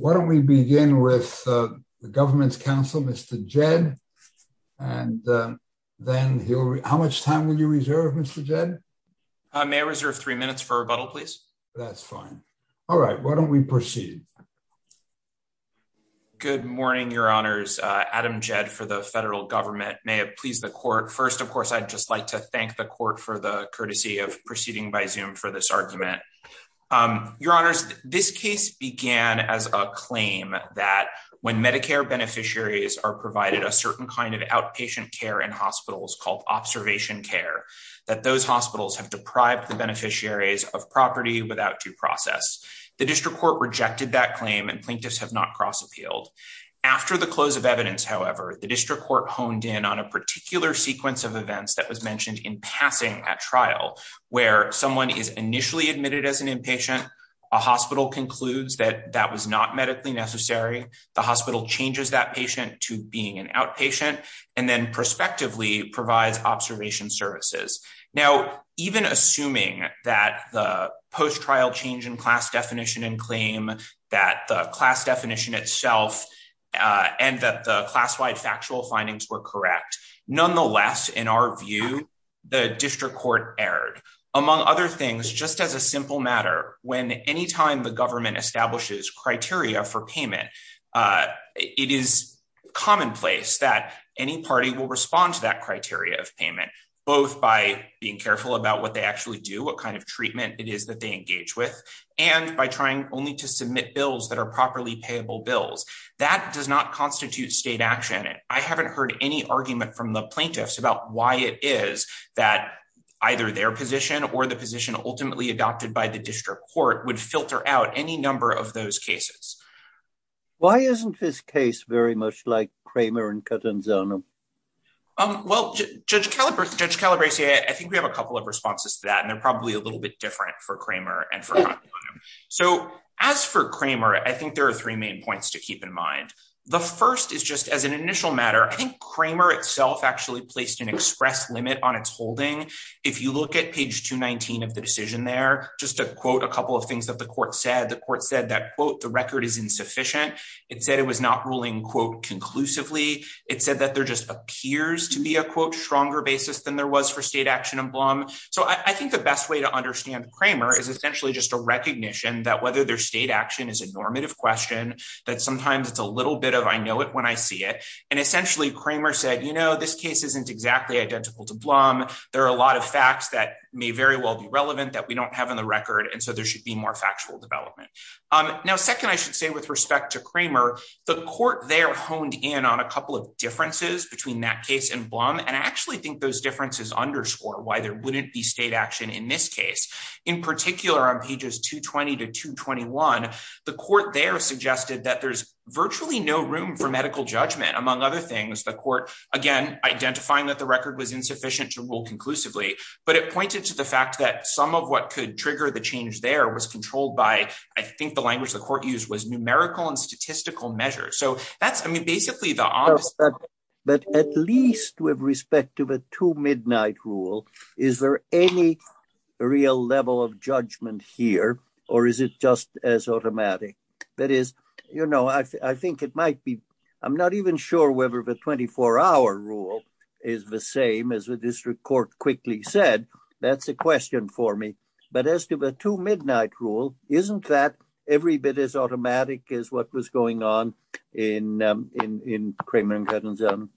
Why don't we begin with the government's counsel, Mr. Jed. And then how much time will you reserve? Mr. Jed? I may reserve three minutes for rebuttal, please. That's fine. All right. Why don't we proceed? Good morning, Your Honors. Adam Jed for the federal government. May it please the court. First, of course, I'd just like to thank the court for the courtesy of proceeding by zoom for this claim that when Medicare beneficiaries are provided a certain kind of outpatient care in hospitals called observation care, that those hospitals have deprived the beneficiaries of property without due process. The district court rejected that claim and plaintiffs have not cross appealed. After the close of evidence, however, the district court honed in on a particular sequence of events that was mentioned in passing at trial, where someone is initially admitted as a hospital concludes that that was not medically necessary. The hospital changes that patient to being an outpatient, and then prospectively provides observation services. Now, even assuming that the post trial change in class definition and claim that the class definition itself, and that the class wide factual findings were correct. Nonetheless, in our view, the district court erred. Among other things, just as a simple matter, when anytime the government establishes criteria for payment, it is commonplace that any party will respond to that criteria of payment, both by being careful about what they actually do, what kind of treatment it is that they engage with, and by trying only to submit bills that are properly payable bills. That does not constitute state action. I haven't heard any argument from the that either their position or the position ultimately adopted by the district court would filter out any number of those cases. Why isn't this case very much like Kramer and Well, Judge Calabresi, I think we have a couple of responses to that. And they're probably a little bit different for Kramer. And so, as for Kramer, I think there are three main points to keep in mind. The first is just as an initial matter, I think Kramer itself actually placed an express limit on its holding. If you look at page 219 of the decision there, just to quote a couple of things that the court said, the court said that, quote, the record is insufficient. It said it was not ruling, quote, conclusively. It said that there just appears to be a, quote, stronger basis than there was for state action in Blum. So I think the best way to understand Kramer is essentially just a recognition that whether their state action is a normative question, that sometimes it's a little bit of I know it when I see it. And essentially, Kramer said, you know, this case isn't exactly identical to Blum. There are a lot of facts that may very well be relevant that we don't have in the record. And so, there should be more factual development. Now, second, I should say with respect to Kramer, the court there honed in on a couple of differences between that case and Blum. And I actually think those differences underscore why there wouldn't be state action in this case. In particular, on pages 220 to 221, the court there suggested that there's virtually no room for medical judgment. Among other things, the court, again, identifying that the record was insufficient to rule conclusively. But it pointed to the fact that some of what could trigger the change there was controlled by, I think, the language the court used was numerical and statistical measures. So that's, I mean, basically, the obvious. But at least with respect to the two midnight rule, is there any real level of judgment here? Or is it just as automatic? That is, you know, I think it might be, I'm not even sure whether the 24-hour rule is the same as the district court quickly said. That's a question for me. But as to the two midnight rule, isn't that every bit as automatic as what was going on in Kramer and Cuttin's own?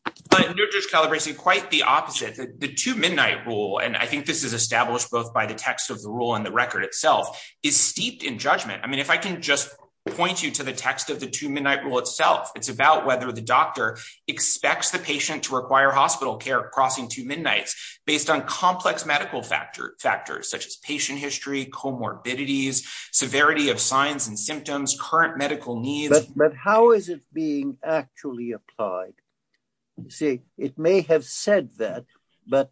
You're just calibrating quite the opposite. The two midnight rule, and I think this is established both by the text of the rule and the record itself, is steeped in judgment. I mean, if I can point you to the text of the two midnight rule itself, it's about whether the doctor expects the patient to require hospital care crossing two midnights based on complex medical factors, such as patient history, comorbidities, severity of signs and symptoms, current medical needs. But how is it being actually applied? See, it may have said that, but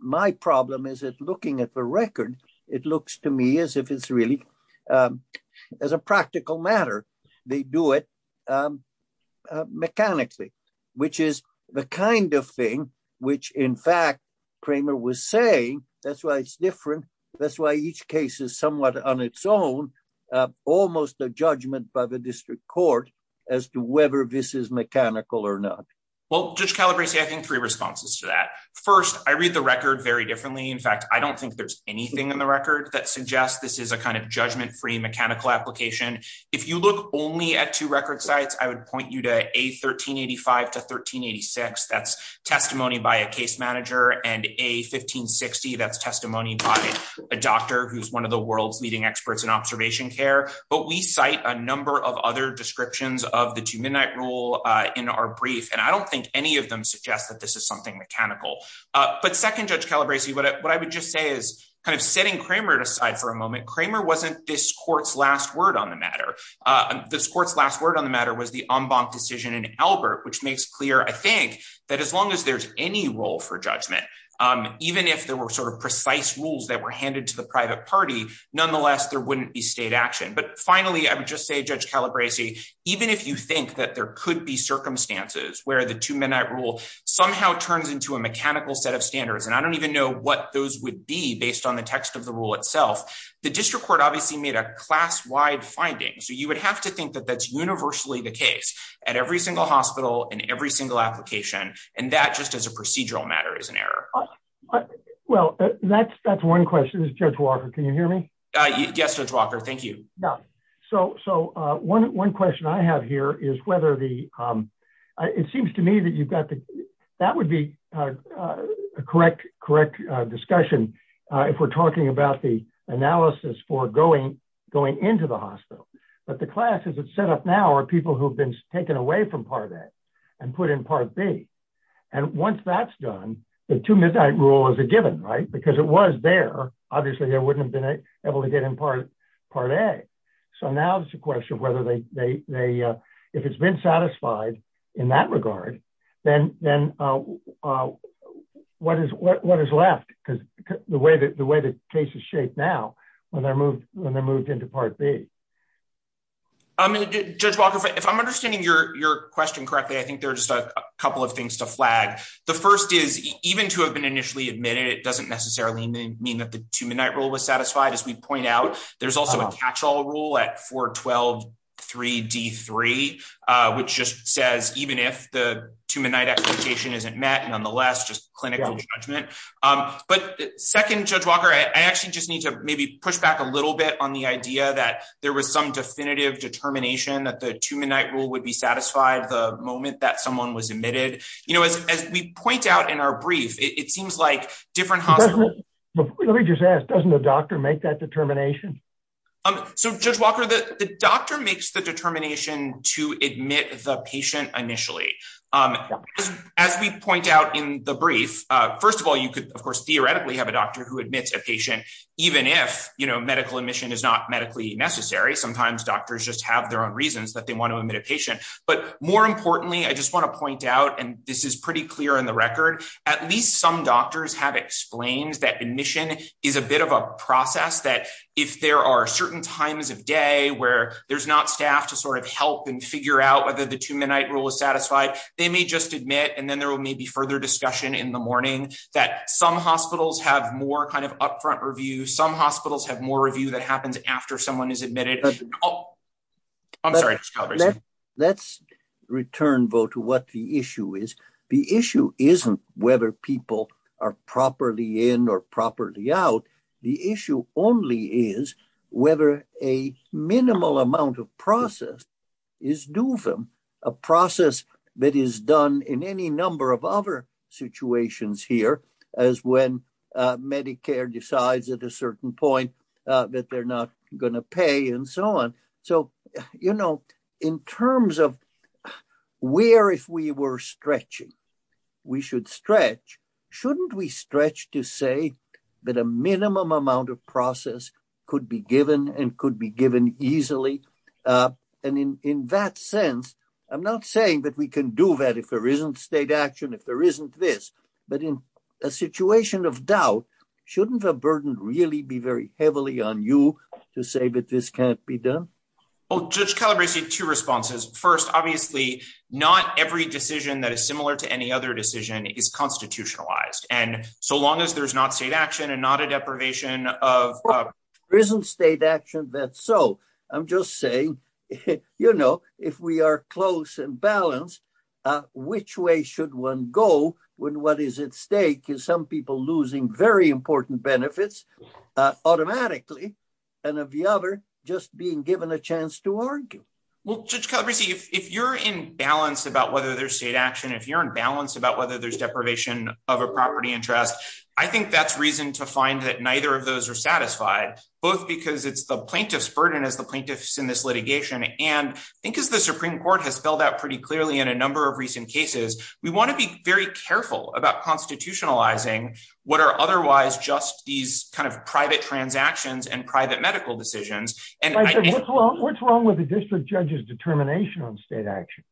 my problem is looking at the record, it looks to me as if it's really as a practical matter. They do it mechanically, which is the kind of thing which, in fact, Kramer was saying. That's why it's different. That's why each case is somewhat on its own, almost a judgment by the district court as to whether this is mechanical or not. Well, Judge Calabresi, I think three responses to that. First, I read the record very differently. In fact, I don't think there's anything in the record that suggests this is a kind of judgment-free mechanical application. If you look only at two record sites, I would point you to A1385 to 1386. That's testimony by a case manager, and A1560, that's testimony by a doctor who's one of the world's leading experts in observation care. But we cite a number of other descriptions of the two midnight rule in our brief, and I don't think any of them suggest that this is something mechanical. But second, Judge Calabresi, what I would just say is, kind of setting Kramer aside for a moment, Kramer wasn't this court's last word on the matter. This court's last word on the matter was the en banc decision in Albert, which makes clear, I think, that as long as there's any role for judgment, even if there were sort of precise rules that were handed to the private party, nonetheless, there wouldn't be state action. But finally, I would just say, Judge Calabresi, even if you think that there could be circumstances where the two midnight rule somehow turns into a mechanical set of standards, and I don't even know what those would be based on the text of the rule itself, the district court obviously made a class-wide finding. So you would have to think that that's universally the case at every single hospital in every single application, and that just as a procedural matter is an error. Well, that's one question. Judge Calabresi, the other question I have here is whether the, it seems to me that you've got the, that would be a correct discussion if we're talking about the analysis for going into the hospital. But the classes that's set up now are people who've been taken away from Part A and put in Part B. And once that's done, the two midnight rule is a given, right? Because it was there, obviously they wouldn't have been able to get in Part A. So now it's a question of whether they, if it's been satisfied in that regard, then what is left? Because the way the case is shaped now when they're moved into Part B. Judge Walker, if I'm understanding your question correctly, I think there are just a couple of things to flag. The first is even to have been initially admitted, it doesn't necessarily mean that the two midnight rule was satisfied. As we just said, doesn't the doctor make that determination? So Judge Walker, the doctor makes the determination to admit the patient initially. As we point out in the brief, first of all, you could, of course, theoretically have a doctor who admits a patient, even if medical admission is not medically necessary. Sometimes doctors just have their own reasons that they want to admit a patient. But more importantly, I just want to point out, and this is pretty clear in the record, at least some doctors have explained that admission is a bit of a process that if there are certain times of day where there's not staff to sort of help and figure out whether the two midnight rule is satisfied, they may just admit and then there will maybe further discussion in the morning that some hospitals have more kind of upfront review, some hospitals have more review that happens after someone is admitted. I'm sorry. Let's return, Vo, to what the issue is. The issue isn't whether people are properly in or properly out. The issue only is whether a minimal amount of process is due them, a process that is done in any number of other situations here, as when Medicare decides at a certain point that they're not going to pay and so on. So, you know, in terms of where if we were stretching, we should stretch, shouldn't we stretch to say that a minimum amount of process could be given and could be given easily? And in that sense, I'm not saying that we can do that if there isn't state action, if there isn't this, but in a situation of doubt, shouldn't the burden really be very heavily on you to say that this can't be done? Well, Judge Calabresi, two responses. First, obviously, not every decision that is similar to any other decision is constitutionalized. And so long as there's not state action and not a deprivation of- There isn't state action, that's so. I'm just saying, you know, if we are close and balanced, which way should one go when what is at stake is some people losing very important benefits automatically and of the other just being a chance to argue? Well, Judge Calabresi, if you're in balance about whether there's state action, if you're in balance about whether there's deprivation of a property interest, I think that's reason to find that neither of those are satisfied, both because it's the plaintiff's burden as the plaintiffs in this litigation. And I think as the Supreme Court has spelled out pretty clearly in a number of recent cases, we want to be very careful about constitutionalizing what are otherwise just these kind of private transactions and private medical decisions. And what's wrong with the district judge's determination on state action?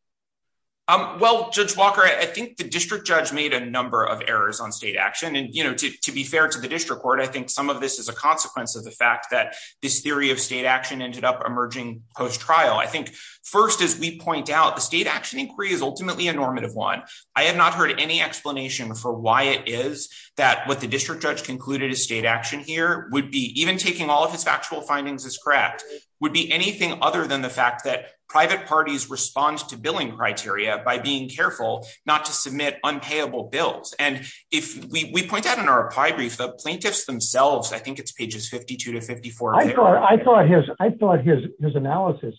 Well, Judge Walker, I think the district judge made a number of errors on state action. And, you know, to be fair to the district court, I think some of this is a consequence of the fact that this theory of state action ended up emerging post-trial. I think first, as we point out, the state action inquiry is ultimately a normative one. I have not heard any explanation for why it is that what the district judge concluded is state action here would be even taking all of this factual findings is correct, would be anything other than the fact that private parties respond to billing criteria by being careful not to submit unpayable bills. And if we point out in our pie brief, the plaintiffs themselves, I think it's pages 52 to 54. I thought his analysis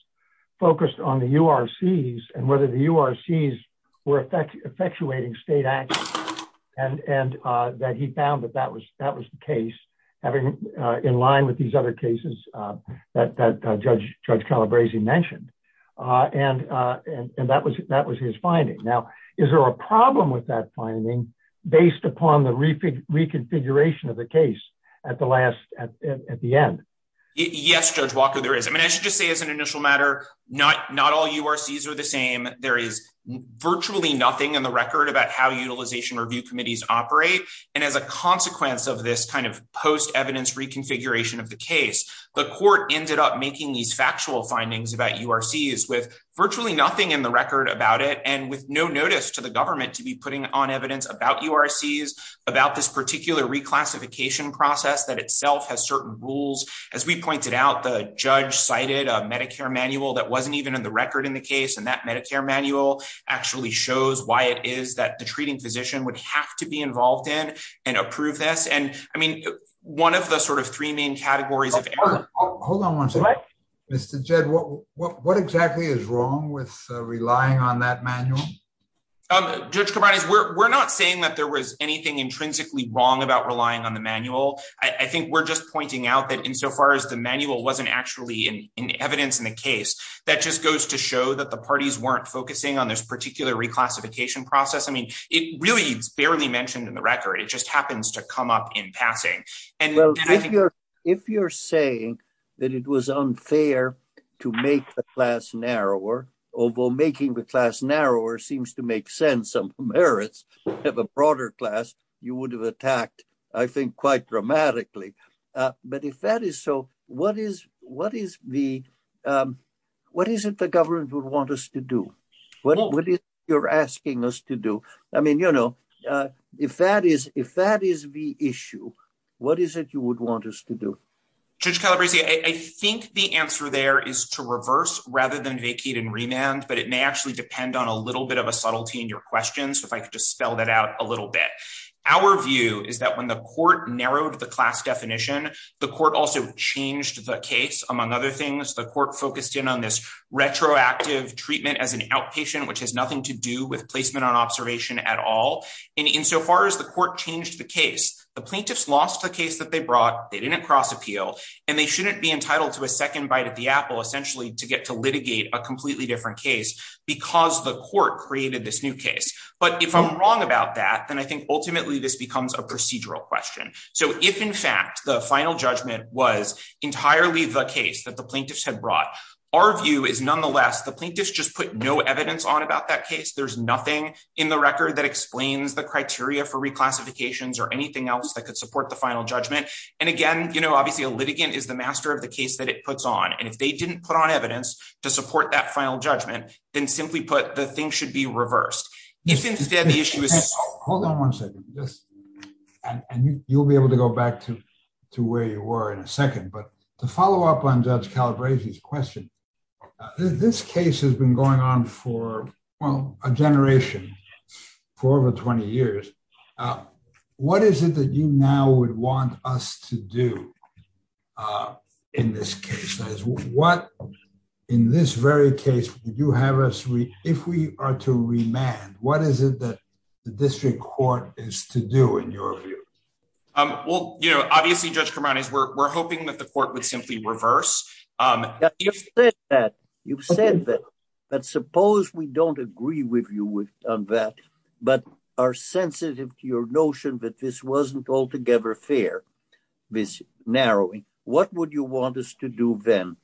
focused on the URCs and whether the URCs were effectuating state action and that he found that that was the case having in line with these other cases that Judge Calabresi mentioned. And that was his finding. Now, is there a problem with that finding based upon the reconfiguration of the case at the end? Yes, Judge Walker, there is. I mean, I should just say as an initial matter, not all URCs are the same. There is virtually nothing in the record about how utilization review committees operate. And as a consequence of this kind of post-evidence reconfiguration of the case, the court ended up making these factual findings about URCs with virtually nothing in the record about it and with no notice to the government to be putting on evidence about URCs, about this particular reclassification process that itself has certain rules. As we pointed out, the judge cited a Medicare manual that wasn't even in the record in the case. And that Medicare manual actually shows why it is that the treating physician would have to be involved in and approve this. And I mean, one of the sort of three main categories of error. Hold on one second. Mr. Jed, what exactly is wrong with relying on that manual? Judge Calabresi, we're not saying that there was anything intrinsically wrong about relying on the manual. I think we're just pointing out that in so far as the manual wasn't actually in evidence in the case, that just goes to show that the parties weren't focusing on this particular reclassification process. I mean, it really is barely mentioned in the record. It just happens to come up in passing. Well, if you're saying that it was unfair to make the class narrower, although making the class narrower seems to make sense of merits of a broader class, you would have attacked, I think, quite dramatically. But if that is so, what is it the government would want us to do? What is it you're asking us to do? I mean, if that is the issue, what is it you would want us to do? Judge Calabresi, I think the answer there is to reverse rather than vacate and remand. But it may actually depend on a little bit of a subtlety in your questions, if I could just spell that out a little bit. Our view is that the court narrowed the class definition. The court also changed the case. Among other things, the court focused in on this retroactive treatment as an outpatient, which has nothing to do with placement on observation at all. And in so far as the court changed the case, the plaintiffs lost the case that they brought. They didn't cross appeal. And they shouldn't be entitled to a second bite at the apple, essentially, to get to litigate a completely different case because the court created this new case. But if I'm wrong about that, then I think ultimately this becomes a procedural question. So if, in fact, the final judgment was entirely the case that the plaintiffs had brought, our view is nonetheless the plaintiffs just put no evidence on about that case. There's nothing in the record that explains the criteria for reclassifications or anything else that could support the final judgment. And again, obviously, a litigant is the master of the case that it puts on. And if they didn't put on evidence to support that final judgment, then simply put, the thing be reversed. If, instead, the issue is- Hold on one second. And you'll be able to go back to where you were in a second. But to follow up on Judge Calabresi's question, this case has been going on for, well, a generation, for over 20 years. What is it that you now would want us to do in this case? What, in this very case, would you have us, if we are to remand, what is it that the district court is to do in your view? Well, you know, obviously, Judge Cremantes, we're hoping that the court would simply reverse. You've said that. But suppose we don't agree with you on that, but are sensitive to your notion that this wasn't altogether fair, this narrowing. What would you want us to do then?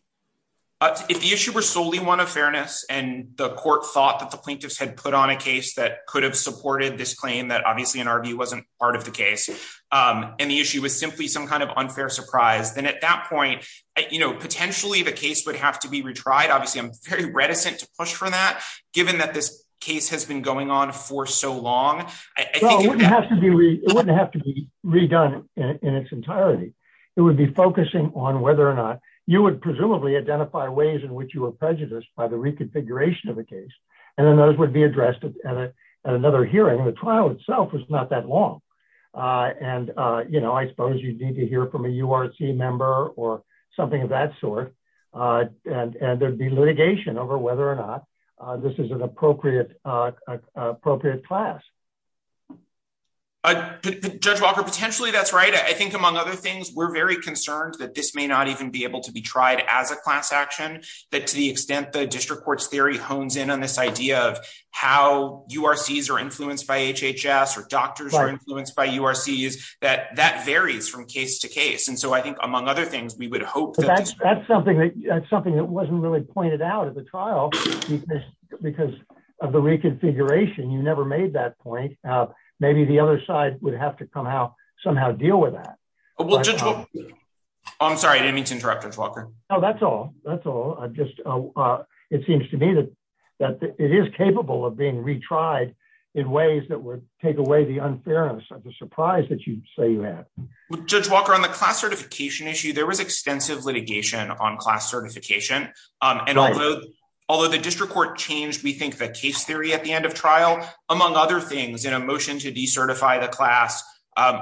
If the issue were solely one of fairness, and the court thought that the plaintiffs had put on a case that could have supported this claim, that obviously, in our view, wasn't part of the case, and the issue was simply some kind of unfair surprise, then at that point, you know, potentially, the case would have to be retried. Obviously, I'm very reticent to push for that, given that this case has been going on for so long. It wouldn't have to be redone in its entirety. It would be focusing on whether or not you would presumably identify ways in which you were prejudiced by the reconfiguration of the case. And then those would be addressed at another hearing. The trial itself was not that long. And, you know, I suppose you'd need to hear from a URC member or something of that sort. And there'd be litigation over whether or not this is an appropriate class. Judge Walker, potentially, that's right. I think, among other things, we're very concerned that this may not even be able to be tried as a class action, that to the extent the district court's theory hones in on this idea of how URCs are influenced by HHS, or doctors are influenced by URCs, that that varies from case to case. And so I think, among other things, we would hope that that's something that's something that wasn't really pointed out at the trial, because of the reconfiguration, you never made that point. Maybe the other side would have to somehow deal with that. I'm sorry, I didn't mean to interrupt, Judge Walker. No, that's all. That's all. It seems to me that it is capable of being retried in ways that would take away the unfairness of the surprise that you say you had. Well, Judge Walker, on the class certification issue, there was extensive litigation on class certification. And although the district court changed, we think, the case theory at the end of trial, among other things, in a motion to decertify the class,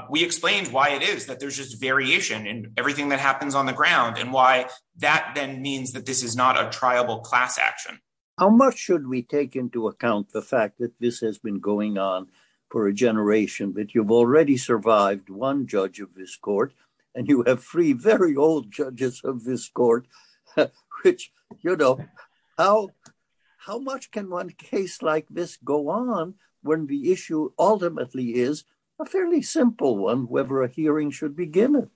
we explained why it is that there's just variation in everything that happens on the ground, and why that then means that this is not a triable class action. How much should we take into account the fact that this has been going on for a generation, that you've already survived one judge of this court, and you have three very old when the issue ultimately is a fairly simple one, whether a hearing should begin?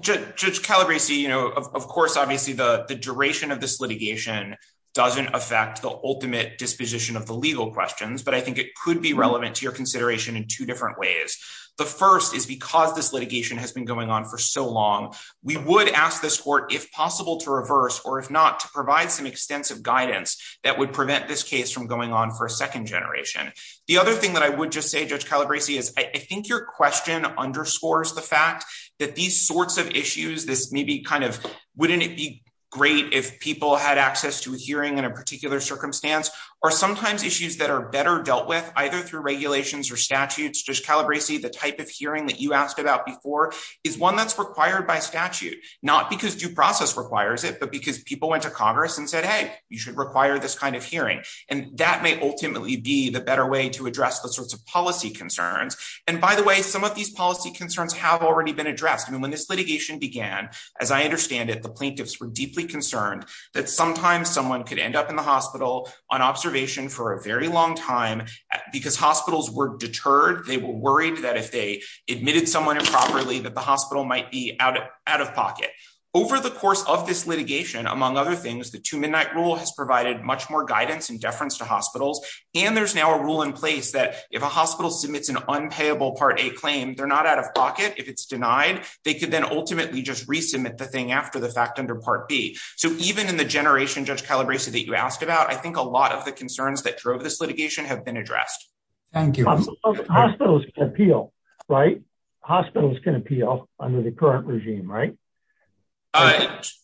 Judge Calabresi, you know, of course, obviously, the duration of this litigation doesn't affect the ultimate disposition of the legal questions. But I think it could be relevant to your consideration in two different ways. The first is because this litigation has been going on for so long, we would ask this court if possible to reverse or if not to provide some extensive guidance that would prevent this case from going on for a second generation. The other thing that I would just say, Judge Calabresi, is I think your question underscores the fact that these sorts of issues, this may be kind of, wouldn't it be great if people had access to a hearing in a particular circumstance, or sometimes issues that are better dealt with either through regulations or statutes, Judge Calabresi, the type of hearing that you asked about before is one that's required by statute, not because due process requires it, but because people went to Congress and said, hey, you should require this kind of hearing. And that may ultimately be the better way to address the sorts of policy concerns. And by the way, some of these policy concerns have already been addressed. I mean, when this litigation began, as I understand it, the plaintiffs were deeply concerned that sometimes someone could end up in the hospital on observation for a very long time. Because hospitals were deterred, they were worried that if they admitted someone improperly, that the hospital might be out of pocket. Over the course of this litigation, among other things, the two midnight rule has provided much more guidance and deference to hospitals. And there's now a rule in place that if a hospital submits an unpayable Part A claim, they're not out of pocket. If it's denied, they could then ultimately just resubmit the thing after the fact under Part B. So even in the generation, Judge Calabresi, that you asked about, I think a lot of the concerns that drove this litigation have been addressed. Thank you. Hospitals can appeal, right? Hospitals can appeal under the current regime, right?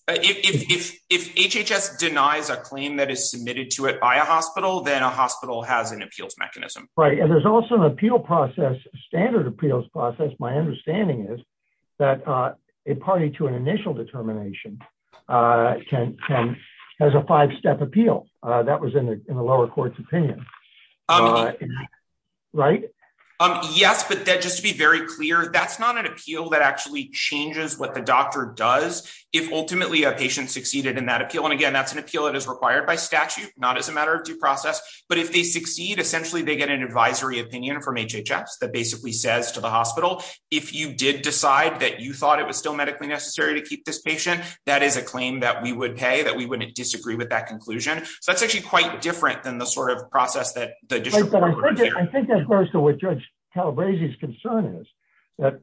If HHS denies a claim that is submitted to it by a hospital, then a hospital has an appeals mechanism. Right. And there's also an appeal process, standard appeals process. My understanding is that a party to an initial determination has a five-step appeal. That was in the lower court's opinion. Right. Yes. But just to be very clear, that's not an appeal that actually changes what the doctor does if ultimately a patient succeeded in that appeal. And again, that's an appeal that is required by statute, not as a matter of due process. But if they succeed, essentially, they get an advisory opinion from HHS that basically says to the hospital, if you did decide that you thought it was still medically necessary to keep this patient, that is a claim that we would pay, that we wouldn't disagree with that conclusion. So that's actually quite different than the sort of process that the district court would consider. I think that goes to what Judge Calabresi's concern is, that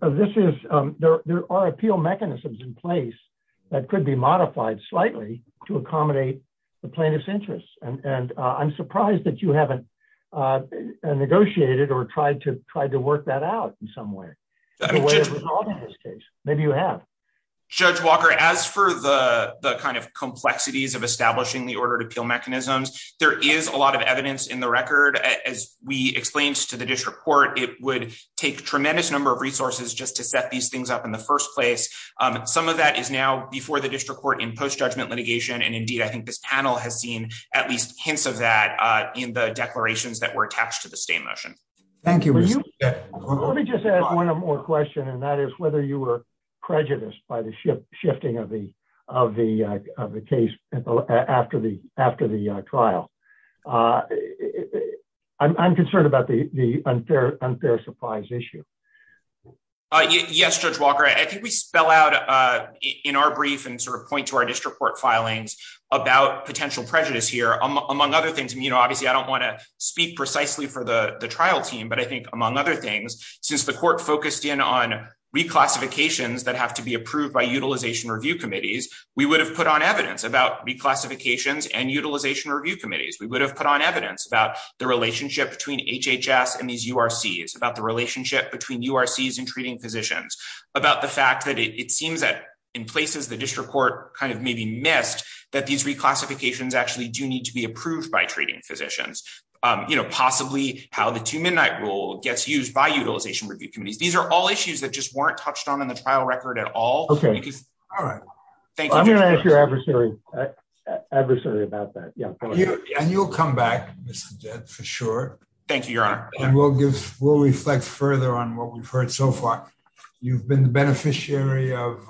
there are appeal mechanisms in place that could be modified slightly to accommodate the plaintiff's interests. And I'm surprised that you haven't negotiated or tried to work that out in some way. Maybe you have. Judge Walker, as for the kind of complexities of establishing the is a lot of evidence in the record. As we explained to the district court, it would take a tremendous number of resources just to set these things up in the first place. Some of that is now before the district court in post-judgment litigation. And indeed, I think this panel has seen at least hints of that in the declarations that were attached to the state motion. Thank you. Let me just add one more question, and that is whether you were shifting of the case after the trial. I'm concerned about the unfair supplies issue. Yes, Judge Walker. I think we spell out in our brief and sort of point to our district court filings about potential prejudice here, among other things. Obviously, I don't want to speak precisely for the trial team, but I think among other things, since the court focused in on reclassifications that have to be approved by utilization review committees, we would have put on evidence about reclassifications and utilization review committees. We would have put on evidence about the relationship between HHS and these URCs, about the relationship between URCs and treating physicians, about the fact that it seems that in places the district court kind of maybe missed that these reclassifications actually do need to be approved by treating physicians. Possibly how the two midnight rule gets used by utilization review committees. These are all touched on in the trial record at all. I'm going to ask your adversary about that. And you'll come back, Mr. Jett, for sure. Thank you, Your Honor. And we'll reflect further on what we've heard so far. You've been the beneficiary of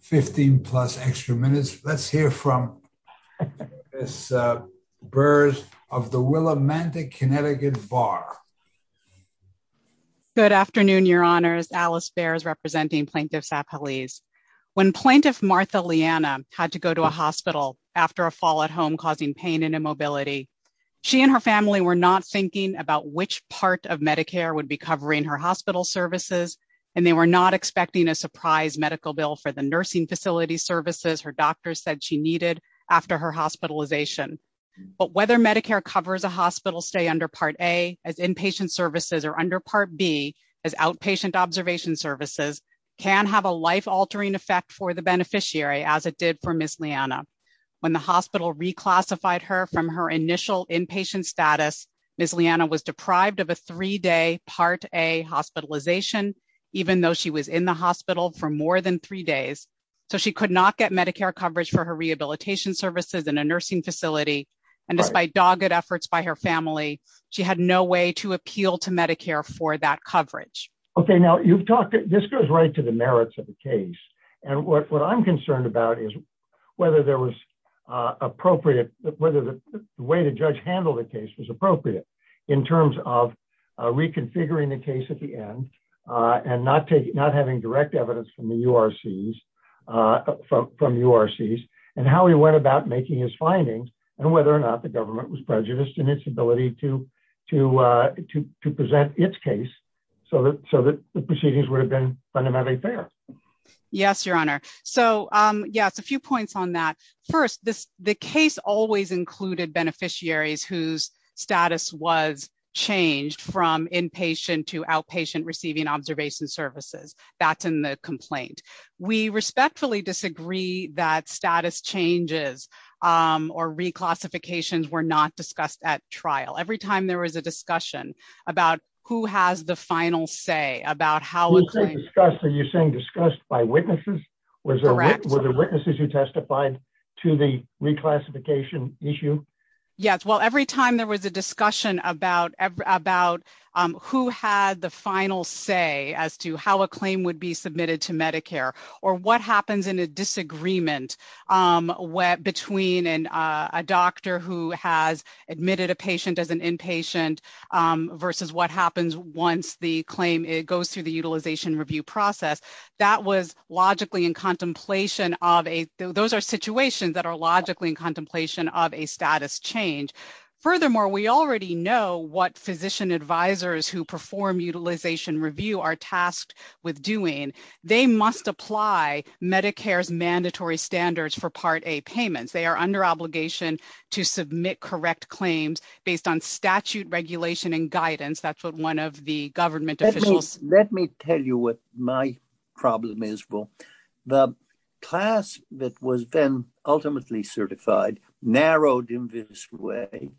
15 plus extra minutes. Let's hear from Ms. Burrs of the Willimantic Connecticut Bar. Good afternoon, Your Honors. Alice Burrs, representing Plaintiffs Appellees. When Plaintiff Martha Liana had to go to a hospital after a fall at home causing pain and immobility, she and her family were not thinking about which part of Medicare would be covering her hospital services, and they were not expecting a surprise medical bill for the nursing facility services her doctors said she needed after her hospitalization. But whether Medicare covers a hospital stay under Part A as inpatient services or under Part B as outpatient observation services can have a life-altering effect for the beneficiary as it did for Ms. Liana. When the hospital reclassified her from her initial inpatient status, Ms. Liana was deprived of a three-day Part A hospitalization even though she was in the hospital for more than three days. So she could not get Medicare coverage for her rehabilitation services in a nursing facility, and despite dogged efforts by her family, she had no way to appeal to Medicare for that coverage. Okay, now you've talked, this goes right to the merits of the case, and what I'm concerned about is whether there was appropriate, whether the way the judge handled the case was appropriate in terms of reconfiguring the case at the end and not taking, not having direct evidence from the URCs and how he went about making his findings and whether or not the government was prejudiced in its ability to present its case so that the proceedings would have been fundamentally fair. Yes, Your Honor. So, yes, a few points on that. First, the case always included beneficiaries whose status was changed from inpatient to outpatient receiving observation services. That's in the complaint. We respectfully disagree that status changes or reclassifications were not discussed at trial. Every time there was a discussion about who has the final say, about how it's discussed, are you saying discussed by witnesses? Correct. Were there witnesses who testified to the reclassification issue? Yes, well, every time there was a discussion about who had the final say as to how a claim would be submitted to Medicare or what happens in a disagreement between a doctor who has admitted a patient as an inpatient versus what happens once the claim goes through the utilization review process, that was logically in contemplation of a, those are situations that are logically in contemplation of a status change. Furthermore, we already know what physician advisors who perform utilization review are tasked with doing. They must apply Medicare's mandatory standards for Part A payments. They are under obligation to submit correct claims based on statute regulation and guidance. That's what one of the government officials. Let me tell you what my problem is. Well, the class that was then certified, narrowed in this way,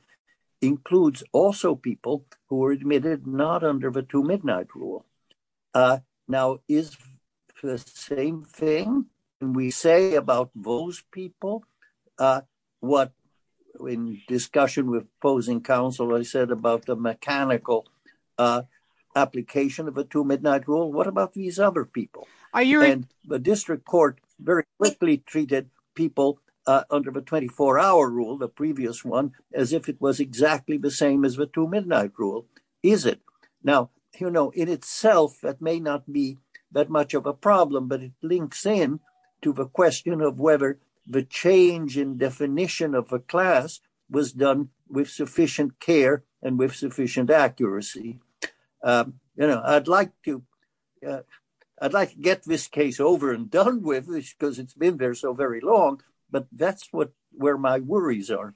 includes also people who were admitted not under the two midnight rule. Now, is the same thing we say about those people? What, in discussion with opposing counsel, I said about the mechanical application of a two midnight rule. What about these other people? The district court very quickly treated people under the 24-hour rule, the previous one, as if it was exactly the same as the two midnight rule. Is it? Now, you know, in itself, that may not be that much of a problem, but it links in to the question of whether the change in definition of a class was done with sufficient care and with sufficient accuracy. You know, I'd like to, I'd like to get this case over and done with, because it's been there so very long, but that's what, where my worries are.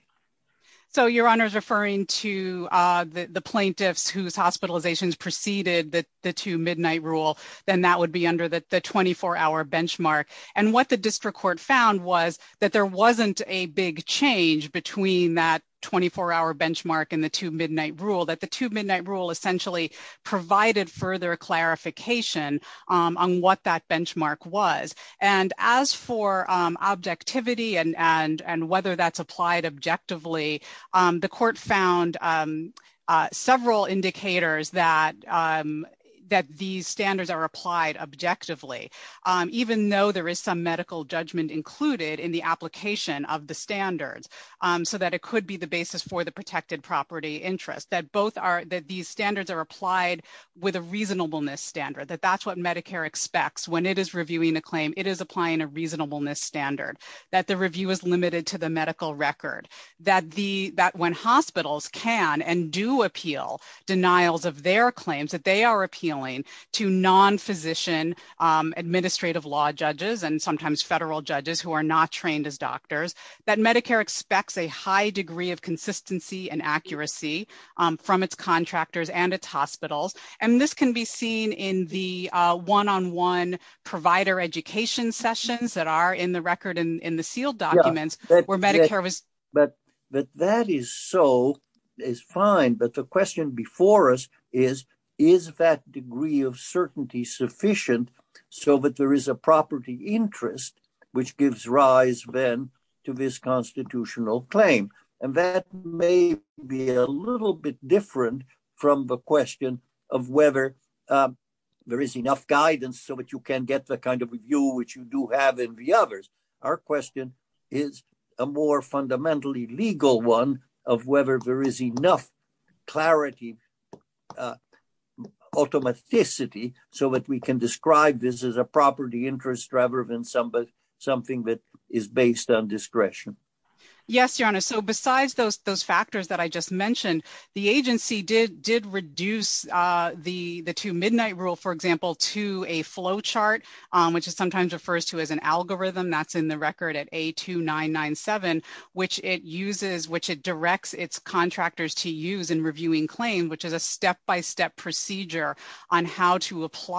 So your Honor's referring to the plaintiffs whose hospitalizations preceded the two midnight rule, then that would be under the 24-hour benchmark. And what the district court found was that there wasn't a big change between that 24-hour benchmark and the two midnight rule, that the two midnight rule essentially provided further clarification on what that benchmark was. And as for objectivity and whether that's applied objectively, the court found several indicators that these standards are applied objectively, even though there is some medical judgment included in the application of the standards, so that it could be the basis for the protected property interest, that both are, that these standards are applied with a reasonableness standard, that that's what Medicare expects when it is reviewing a claim, it is applying a reasonableness standard, that the review is limited to the medical record, that the, that when hospitals can and do appeal denials of their claims, that they are appealing to non-physician administrative law judges and sometimes federal judges who are not trained as doctors, that Medicare expects a high degree of consistency and accuracy from its contractors and its hospitals. And this can be seen in the one-on-one provider education sessions that are in the record and in the sealed documents where Medicare was. But, but that is so, is fine, but the question before us is, is that degree of certainty sufficient so that there is a property interest which gives rise then to this constitutional claim? And that may be a little bit different from the question of whether there is enough guidance so that you can get the kind of view which you do have in the others. Our question is a more can describe this as a property interest rather than something that is based on discretion. Yes, your honor. So besides those, those factors that I just mentioned, the agency did, did reduce the, the two midnight rule, for example, to a flow chart, which is sometimes refers to as an algorithm that's in the record at A2997, which it uses, which it directs its contractors to use in order to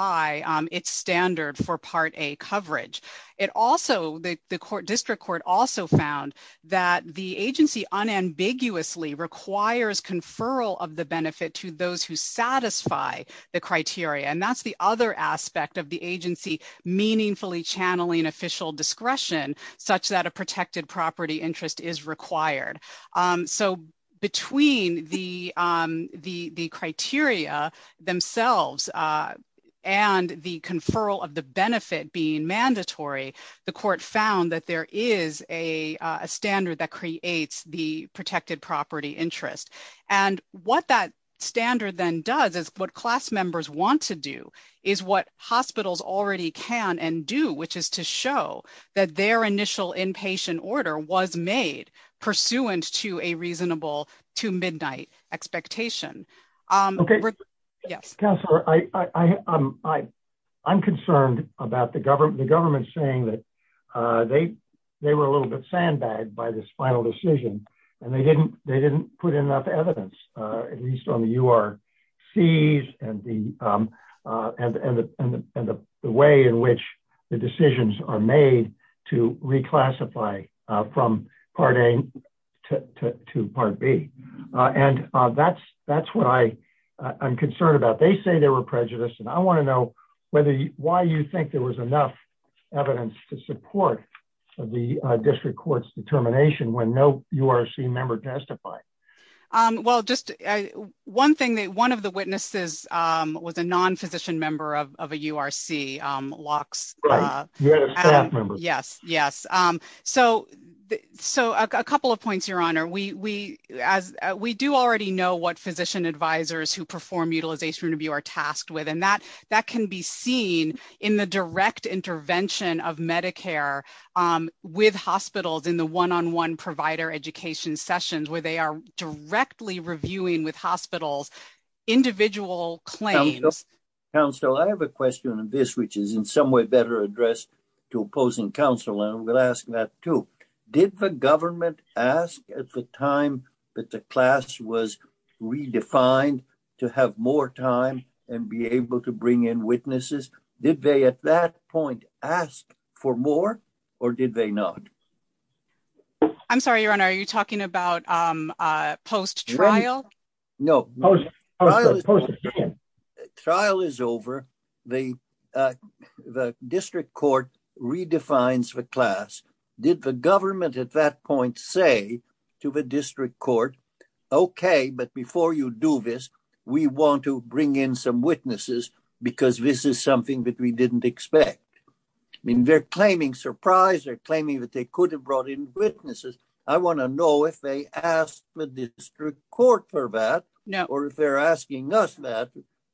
apply its standard for Part A coverage. It also, the court district court also found that the agency unambiguously requires conferral of the benefit to those who satisfy the criteria. And that's the other aspect of the agency meaningfully channeling official discretion such that a protected property interest is required. So between the, the, the criteria themselves and the conferral of the benefit being mandatory, the court found that there is a, a standard that creates the protected property interest. And what that standard then does is what class members want to do is what made pursuant to a reasonable to midnight expectation. Okay. Yes. I'm concerned about the government, the government saying that they, they were a little bit sandbagged by this final decision and they didn't, they didn't put enough evidence at least on the URCs and the, and the way in which the decisions are made to reclassify from Part A to Part B. And that's, that's what I I'm concerned about. They say they were prejudiced and I want to know whether why you think there was enough evidence to support the district court's determination when no member testified? Well, just one thing that one of the witnesses was a non-physician member of, of a URC locks. Yes. Yes. So, so a couple of points, your honor, we, we, as we do already know what physician advisors who perform utilization review are tasked with, and that, that can be seen in the direct intervention of Medicare with hospitals in the one-on-one provider education sessions where they are directly reviewing with hospitals individual claims. Counsel, I have a question on this, which is in some way better addressed to opposing counsel. And I'm going to ask that too. Did the government ask at the time that the class was redefined to have more time and be able to bring in witnesses? Did they at that point ask for more or did they not? I'm sorry, your honor. Are you talking about post-trial? No. Trial is over. The, the district court redefines the class. Did the government at that point say to the district court, okay, but before you do this, we want to bring in some witnesses because this is something that we didn't expect. I mean, they're claiming surprise, they're claiming that they could have brought in witnesses. I want to know if they asked the district court for that or if they're asking us that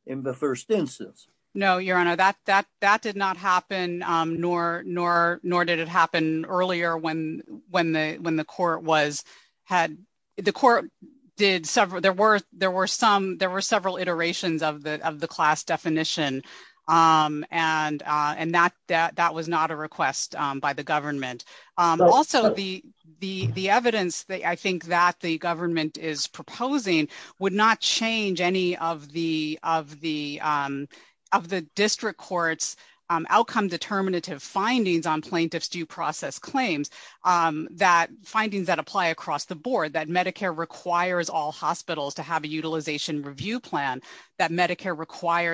in the first instance. No, your honor, that, that, that did not happen. Nor, nor, nor did it happen earlier when, when the, when the court was had, the court did several, there were, there were some, there were several iterations of the, of the class definition. And, and that, that, that was not a request by the government. Also, the, the, the evidence that I think that the government is proposing would not change any of the, of the, of the district court's outcome determinative findings on plaintiff's due process claims. That findings that apply across the board, that Medicare requires all hospitals to have a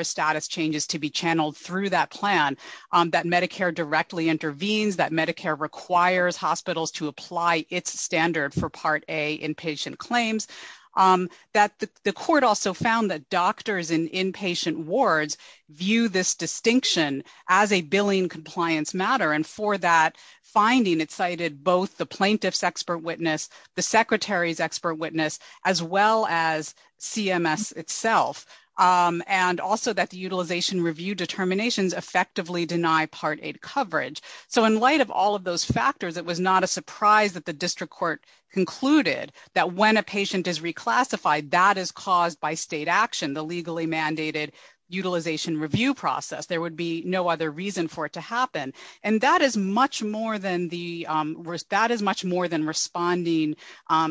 status changes to be channeled through that plan, that Medicare directly intervenes, that Medicare requires hospitals to apply its standard for part A inpatient claims, that the court also found that doctors in inpatient wards view this distinction as a billing compliance matter. And for that finding, it cited both the plaintiff's expert witness, the secretary's expert witness, as well as CMS itself. And also that the utilization review determinations effectively deny part A coverage. So in light of all of those factors, it was not a surprise that the district court concluded that when a patient is reclassified, that is caused by state action, the legally mandated utilization review process. There would be no other reason for it to happen. And that is much more than the risk that is much more than responding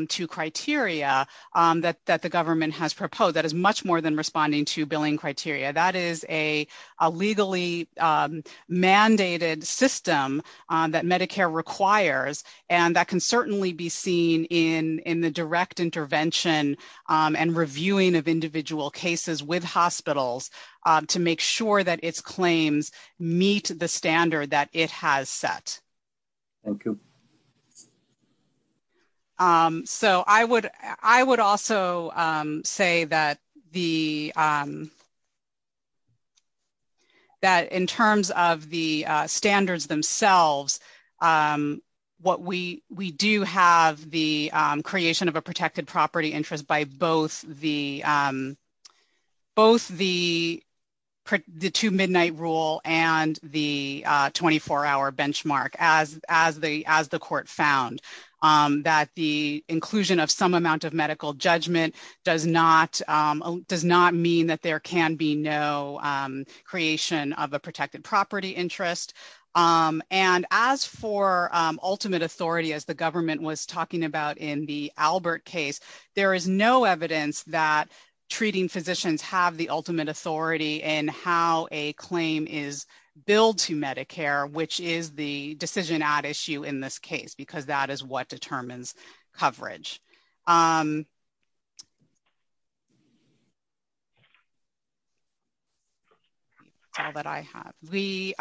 to criteria that that the government has proposed that is much more than responding to billing criteria. That is a legally mandated system that Medicare requires. And that can certainly be seen in in the direct intervention and reviewing of individual cases with hospitals to make sure that its claims meet the standard that it has set. Thank you. So I would I would also say that the that in terms of the standards themselves, what we we do have the creation of a protected property interest by both the both the two midnight rule and the 24 hour benchmark as as the as the court found that the inclusion of some amount of medical judgment does not does not mean that there can be no creation of a protected property interest. And as for ultimate authority, as the government was talking about in the Albert case, there is no evidence that treating physicians have the ultimate authority and how a claim is billed to Medicare, which is the decision at issue in this case, because that is what determines coverage. That I have the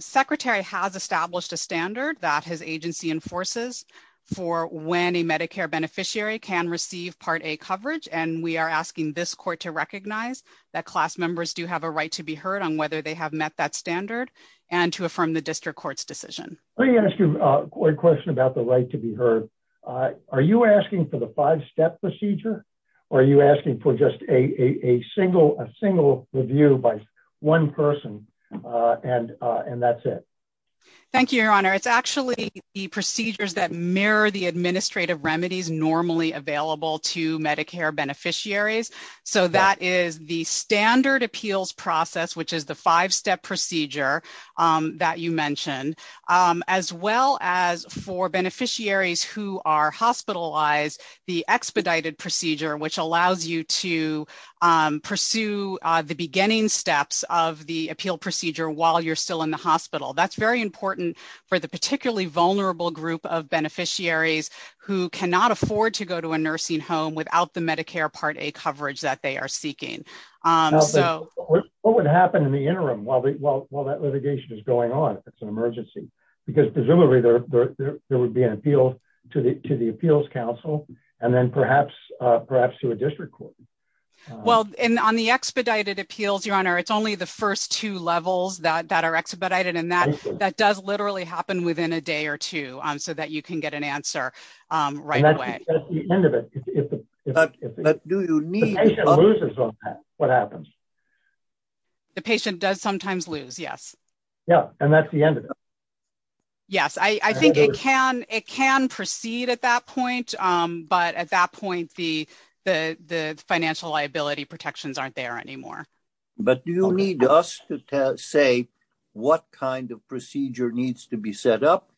secretary has established a standard that his agency enforces for when a Medicare beneficiary can receive Part A coverage. And we are asking this court to recognize that class members do have a right to be heard on whether they have met that standard and to affirm the district court's decision. Let me ask you a question about the right to be heard. Are you asking for the five step procedure? Or are you asking for just a single a single review by one person? And and that's it. Thank you, Your Honor. It's actually the procedures that mirror the administrative remedies normally available to Medicare beneficiaries. So that is the standard appeals process, which is the five step procedure that you mentioned, as well as for beneficiaries who are hospitalized, the expedited procedure, which allows you to pursue the beginning steps of the appeal procedure while you're still in hospital. That's very important for the particularly vulnerable group of beneficiaries who cannot afford to go to a nursing home without the Medicare Part A coverage that they are seeking. So what would happen in the interim while they while while that litigation is going on, if it's an emergency, because presumably, there would be an appeal to the to the appeals council, and then perhaps, perhaps to a district court. Well, in on the expedited appeals, Your Honor, it's only the first two levels that are expedited. And that that does literally happen within a day or two on so that you can get an answer. Right. But do you need what happens? The patient does sometimes lose? Yes. Yeah. And that's the end of it. Yes, I think it can it can proceed at that point. But at that point, the the the financial liability protections aren't there anymore. But do you need us to say, what kind of procedure needs to be set up?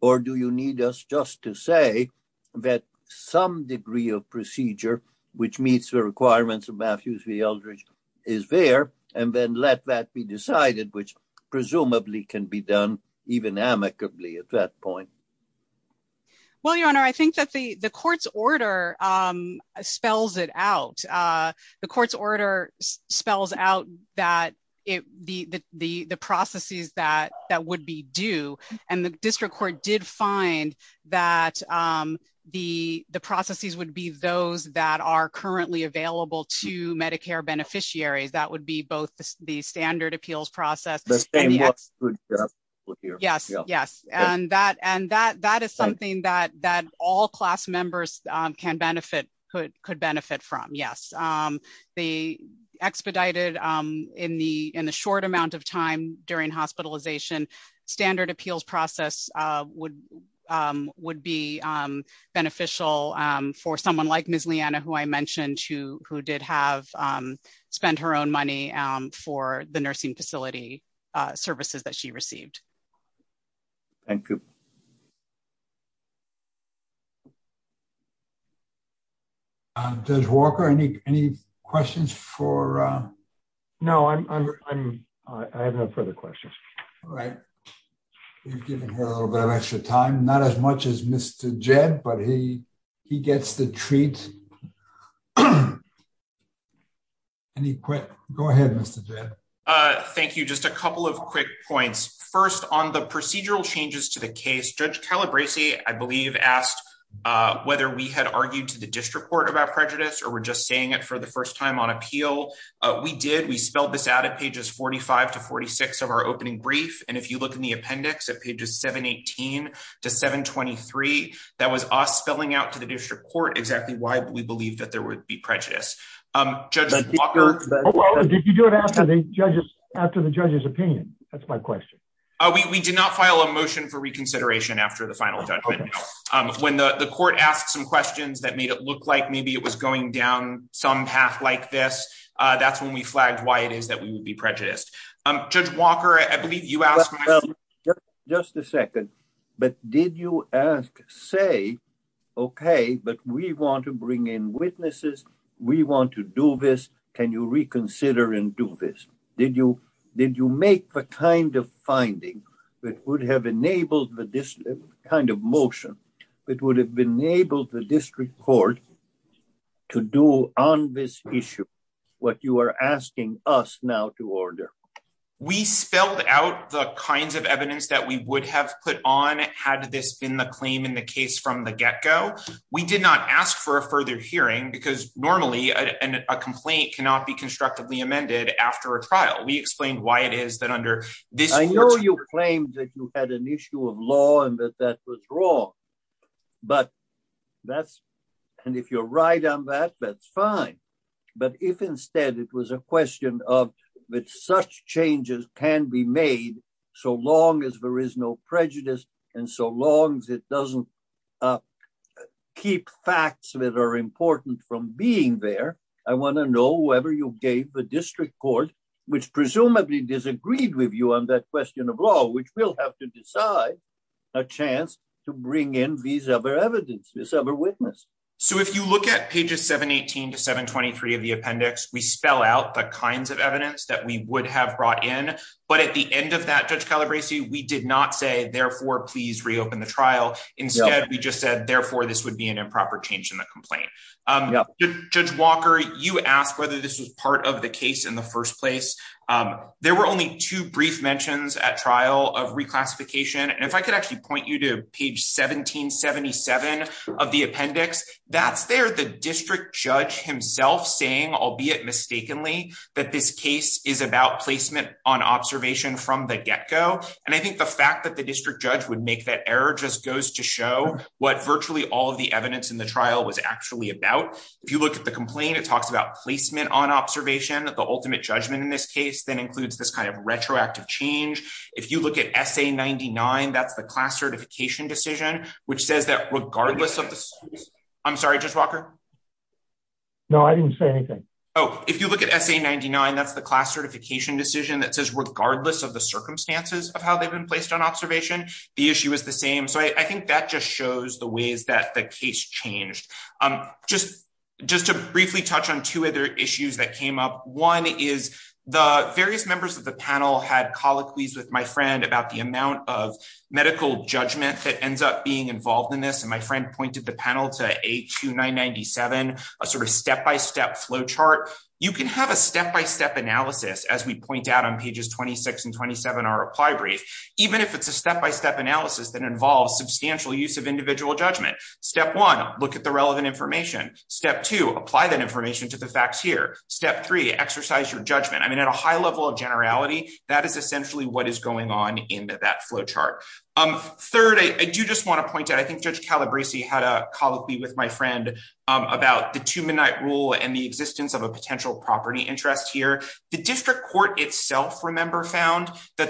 Or do you need us just to say that some degree of procedure, which meets the requirements of Matthews v. Eldridge is there, and then let that be decided, which presumably can be done even amicably at that point? Well, Your Honor, I think that the the court's order spells it out. The court's order spells out that it the the the processes that that would be due, and the district court did find that the the processes would be those that are currently available to Medicare beneficiaries that would be both the standard appeals process. Yes, yes. And that and that that is something that that all class members can benefit could could the expedited in the in the short amount of time during hospitalization, standard appeals process would would be beneficial for someone like Miss Leanna, who I mentioned to who did have spent her own money for the nursing facility services that she received. Thank you. Judge Walker, any any questions for? No, I'm I'm, I have no further questions. All right. You've given her a little bit of extra time, not as much as Mr. Jed, but he he gets the treat. And he quit. Go ahead, Mr. Jed. Thank you. Just a couple of quick points. First, on the I believe asked whether we had argued to the district court about prejudice, or we're just saying it for the first time on appeal. We did we spelled this out at pages 45 to 46 of our opening brief. And if you look in the appendix at pages 718 to 723, that was us spelling out to the district court exactly why we believe that there would be prejudice. Judge Walker, did you do it after the judges after the judge's opinion? That's my question. We did not file a motion for reconsideration after the final judgment. When the court asked some questions that made it look like maybe it was going down some path like this. That's when we flagged why it is that we would be prejudiced. Judge Walker, I believe you asked. Just a second. But did you ask say, okay, but we want to bring in witnesses. We want to do this. Can you reconsider and do this? Did you make the kind of finding that would have enabled this kind of motion that would have enabled the district court to do on this issue what you are asking us now to order? We spelled out the kinds of evidence that we would have put on had this been the claim in the case from the get-go. We did not ask for a further hearing because normally a complaint cannot be constructively amended after a trial. We explained why it is that under this. I know you claimed that you had an issue of law and that that was wrong. And if you're right on that, that's fine. But if instead it was a question of which such changes can be made so long as there is no prejudice and so long as it doesn't keep facts that are important from being there, I want to know whether you gave the district court, which presumably disagreed with you on that question of law, which we'll have to decide a chance to bring in these other evidence, this other witness. So if you look at pages 718 to 723 of the appendix, we spell out the kinds of evidence that we would have brought in. But at the end of that, Judge Calabresi, we did not say, therefore, please reopen the trial. Instead, we just said, therefore, this would be an improper change in the complaint. Judge Walker, you asked whether this was part of the case in the first place. There were only two brief mentions at trial of reclassification. And if I could actually point you to page 1777 of the appendix, that's there the district judge himself saying, albeit mistakenly, that this case is about placement on observation from the get go. And I think the fact that the district judge would make that error just goes to show what virtually all of the evidence in trial was actually about. If you look at the complaint, it talks about placement on observation. The ultimate judgment in this case then includes this kind of retroactive change. If you look at SA99, that's the class certification decision, which says that regardless of the I'm sorry, Judge Walker. No, I didn't say anything. Oh, if you look at SA99, that's the class certification decision that says regardless of the circumstances of how they've been placed on observation, the issue is the same. So I think that just shows the ways that the case changed. Just to briefly touch on two other issues that came up. One is the various members of the panel had colloquies with my friend about the amount of medical judgment that ends up being involved in this. And my friend pointed the panel to A2997, a sort of step-by-step flow chart. You can have a step-by-step analysis, as we point out on pages 26 and 27, our reply brief, even if it's a step-by-step analysis that involves substantial use of individual judgment. Step one, look at the relevant information. Step two, apply that information to the facts here. Step three, exercise your judgment. I mean, at a high level of generality, that is essentially what is going on in that flow chart. Third, I do just want to point out, I think Judge Calabresi had a colloquy with my friend about the two midnight rule and the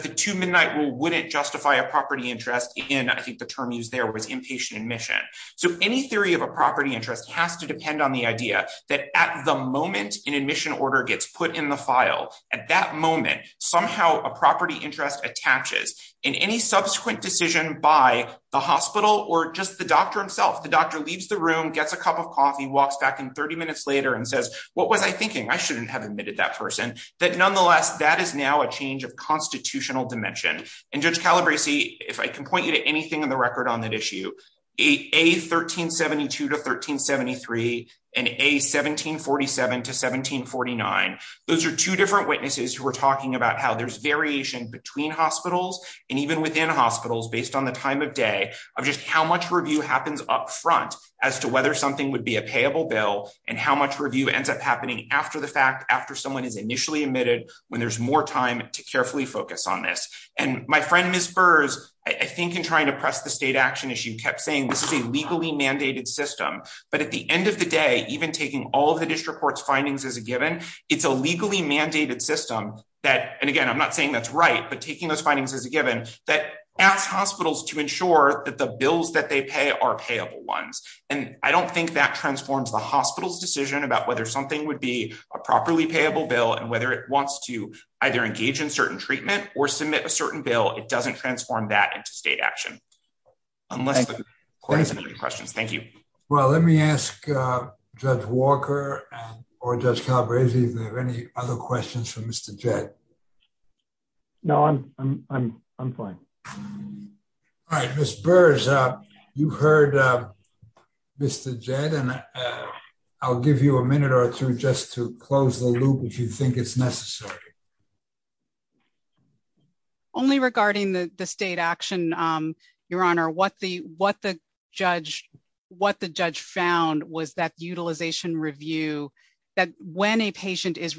the two midnight rule wouldn't justify a property interest in, I think the term used there was inpatient admission. So any theory of a property interest has to depend on the idea that at the moment an admission order gets put in the file, at that moment, somehow a property interest attaches in any subsequent decision by the hospital or just the doctor himself. The doctor leaves the room, gets a cup of coffee, walks back in 30 minutes later and says, what was I thinking? I shouldn't have admitted that person. That nonetheless, that is now a change of constitutional dimension. And Judge Calabresi, if I can point you to anything in the record on that issue, A1372 to 1373 and A1747 to 1749, those are two different witnesses who are talking about how there's variation between hospitals and even within hospitals based on the time of day of just how much review happens up front as to whether something would be a payable bill and how much review ends up happening after the fact, after someone is initially admitted, when there's more time to carefully focus on this. And my friend, Ms. Burrs, I think in trying to press the state action issue, kept saying this is a legally mandated system, but at the end of the day, even taking all of the district court's findings as a given, it's a legally mandated system that, and again, I'm not saying that's right, but taking those findings as a given, that asks hospitals to ensure that the bills that they pay are payable ones. And I don't think that about whether something would be a properly payable bill and whether it wants to either engage in certain treatment or submit a certain bill, it doesn't transform that into state action. Unless the court has any other questions. Thank you. Well, let me ask Judge Walker or Judge Calabresi if they have any other questions for Mr. Jed. No, I'm fine. All right, Ms. Burrs, you heard Mr. Jed, and I'll give you a minute or two just to close the loop if you think it's necessary. Only regarding the state action, Your Honor, what the judge found was that utilization review, that when a patient is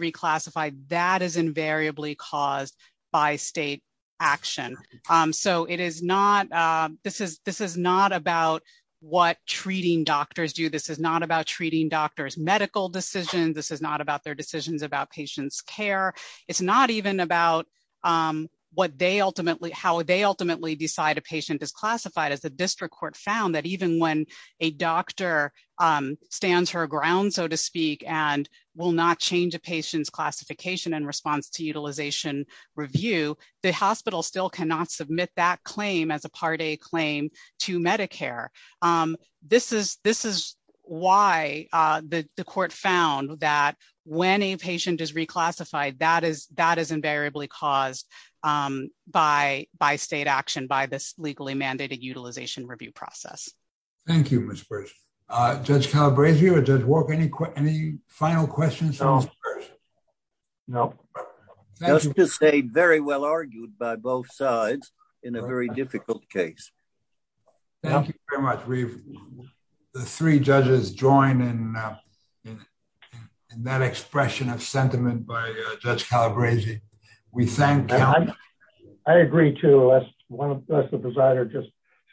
so it is not, this is not about what treating doctors do. This is not about treating doctors' medical decisions. This is not about their decisions about patients' care. It's not even about what they ultimately, how they ultimately decide a patient is classified. As the district court found that even when a doctor stands her ground, so to speak, and will not change a as a Part A claim to Medicare. This is why the court found that when a patient is reclassified, that is invariably caused by state action, by this legally mandated utilization review process. Thank you, Ms. Burrs. Judge Calabresi or Judge Walker, any final questions for Ms. Burrs? No. Just to say, very well argued by both sides in a very difficult case. Thank you very much. The three judges join in that expression of sentiment by Judge Calabresi. We thank him. I agree too. Let's the presider just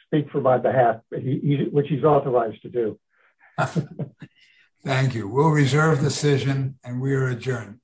speak for my behalf, which he's authorized to do. Thank you. We'll reserve the decision and we are adjourned.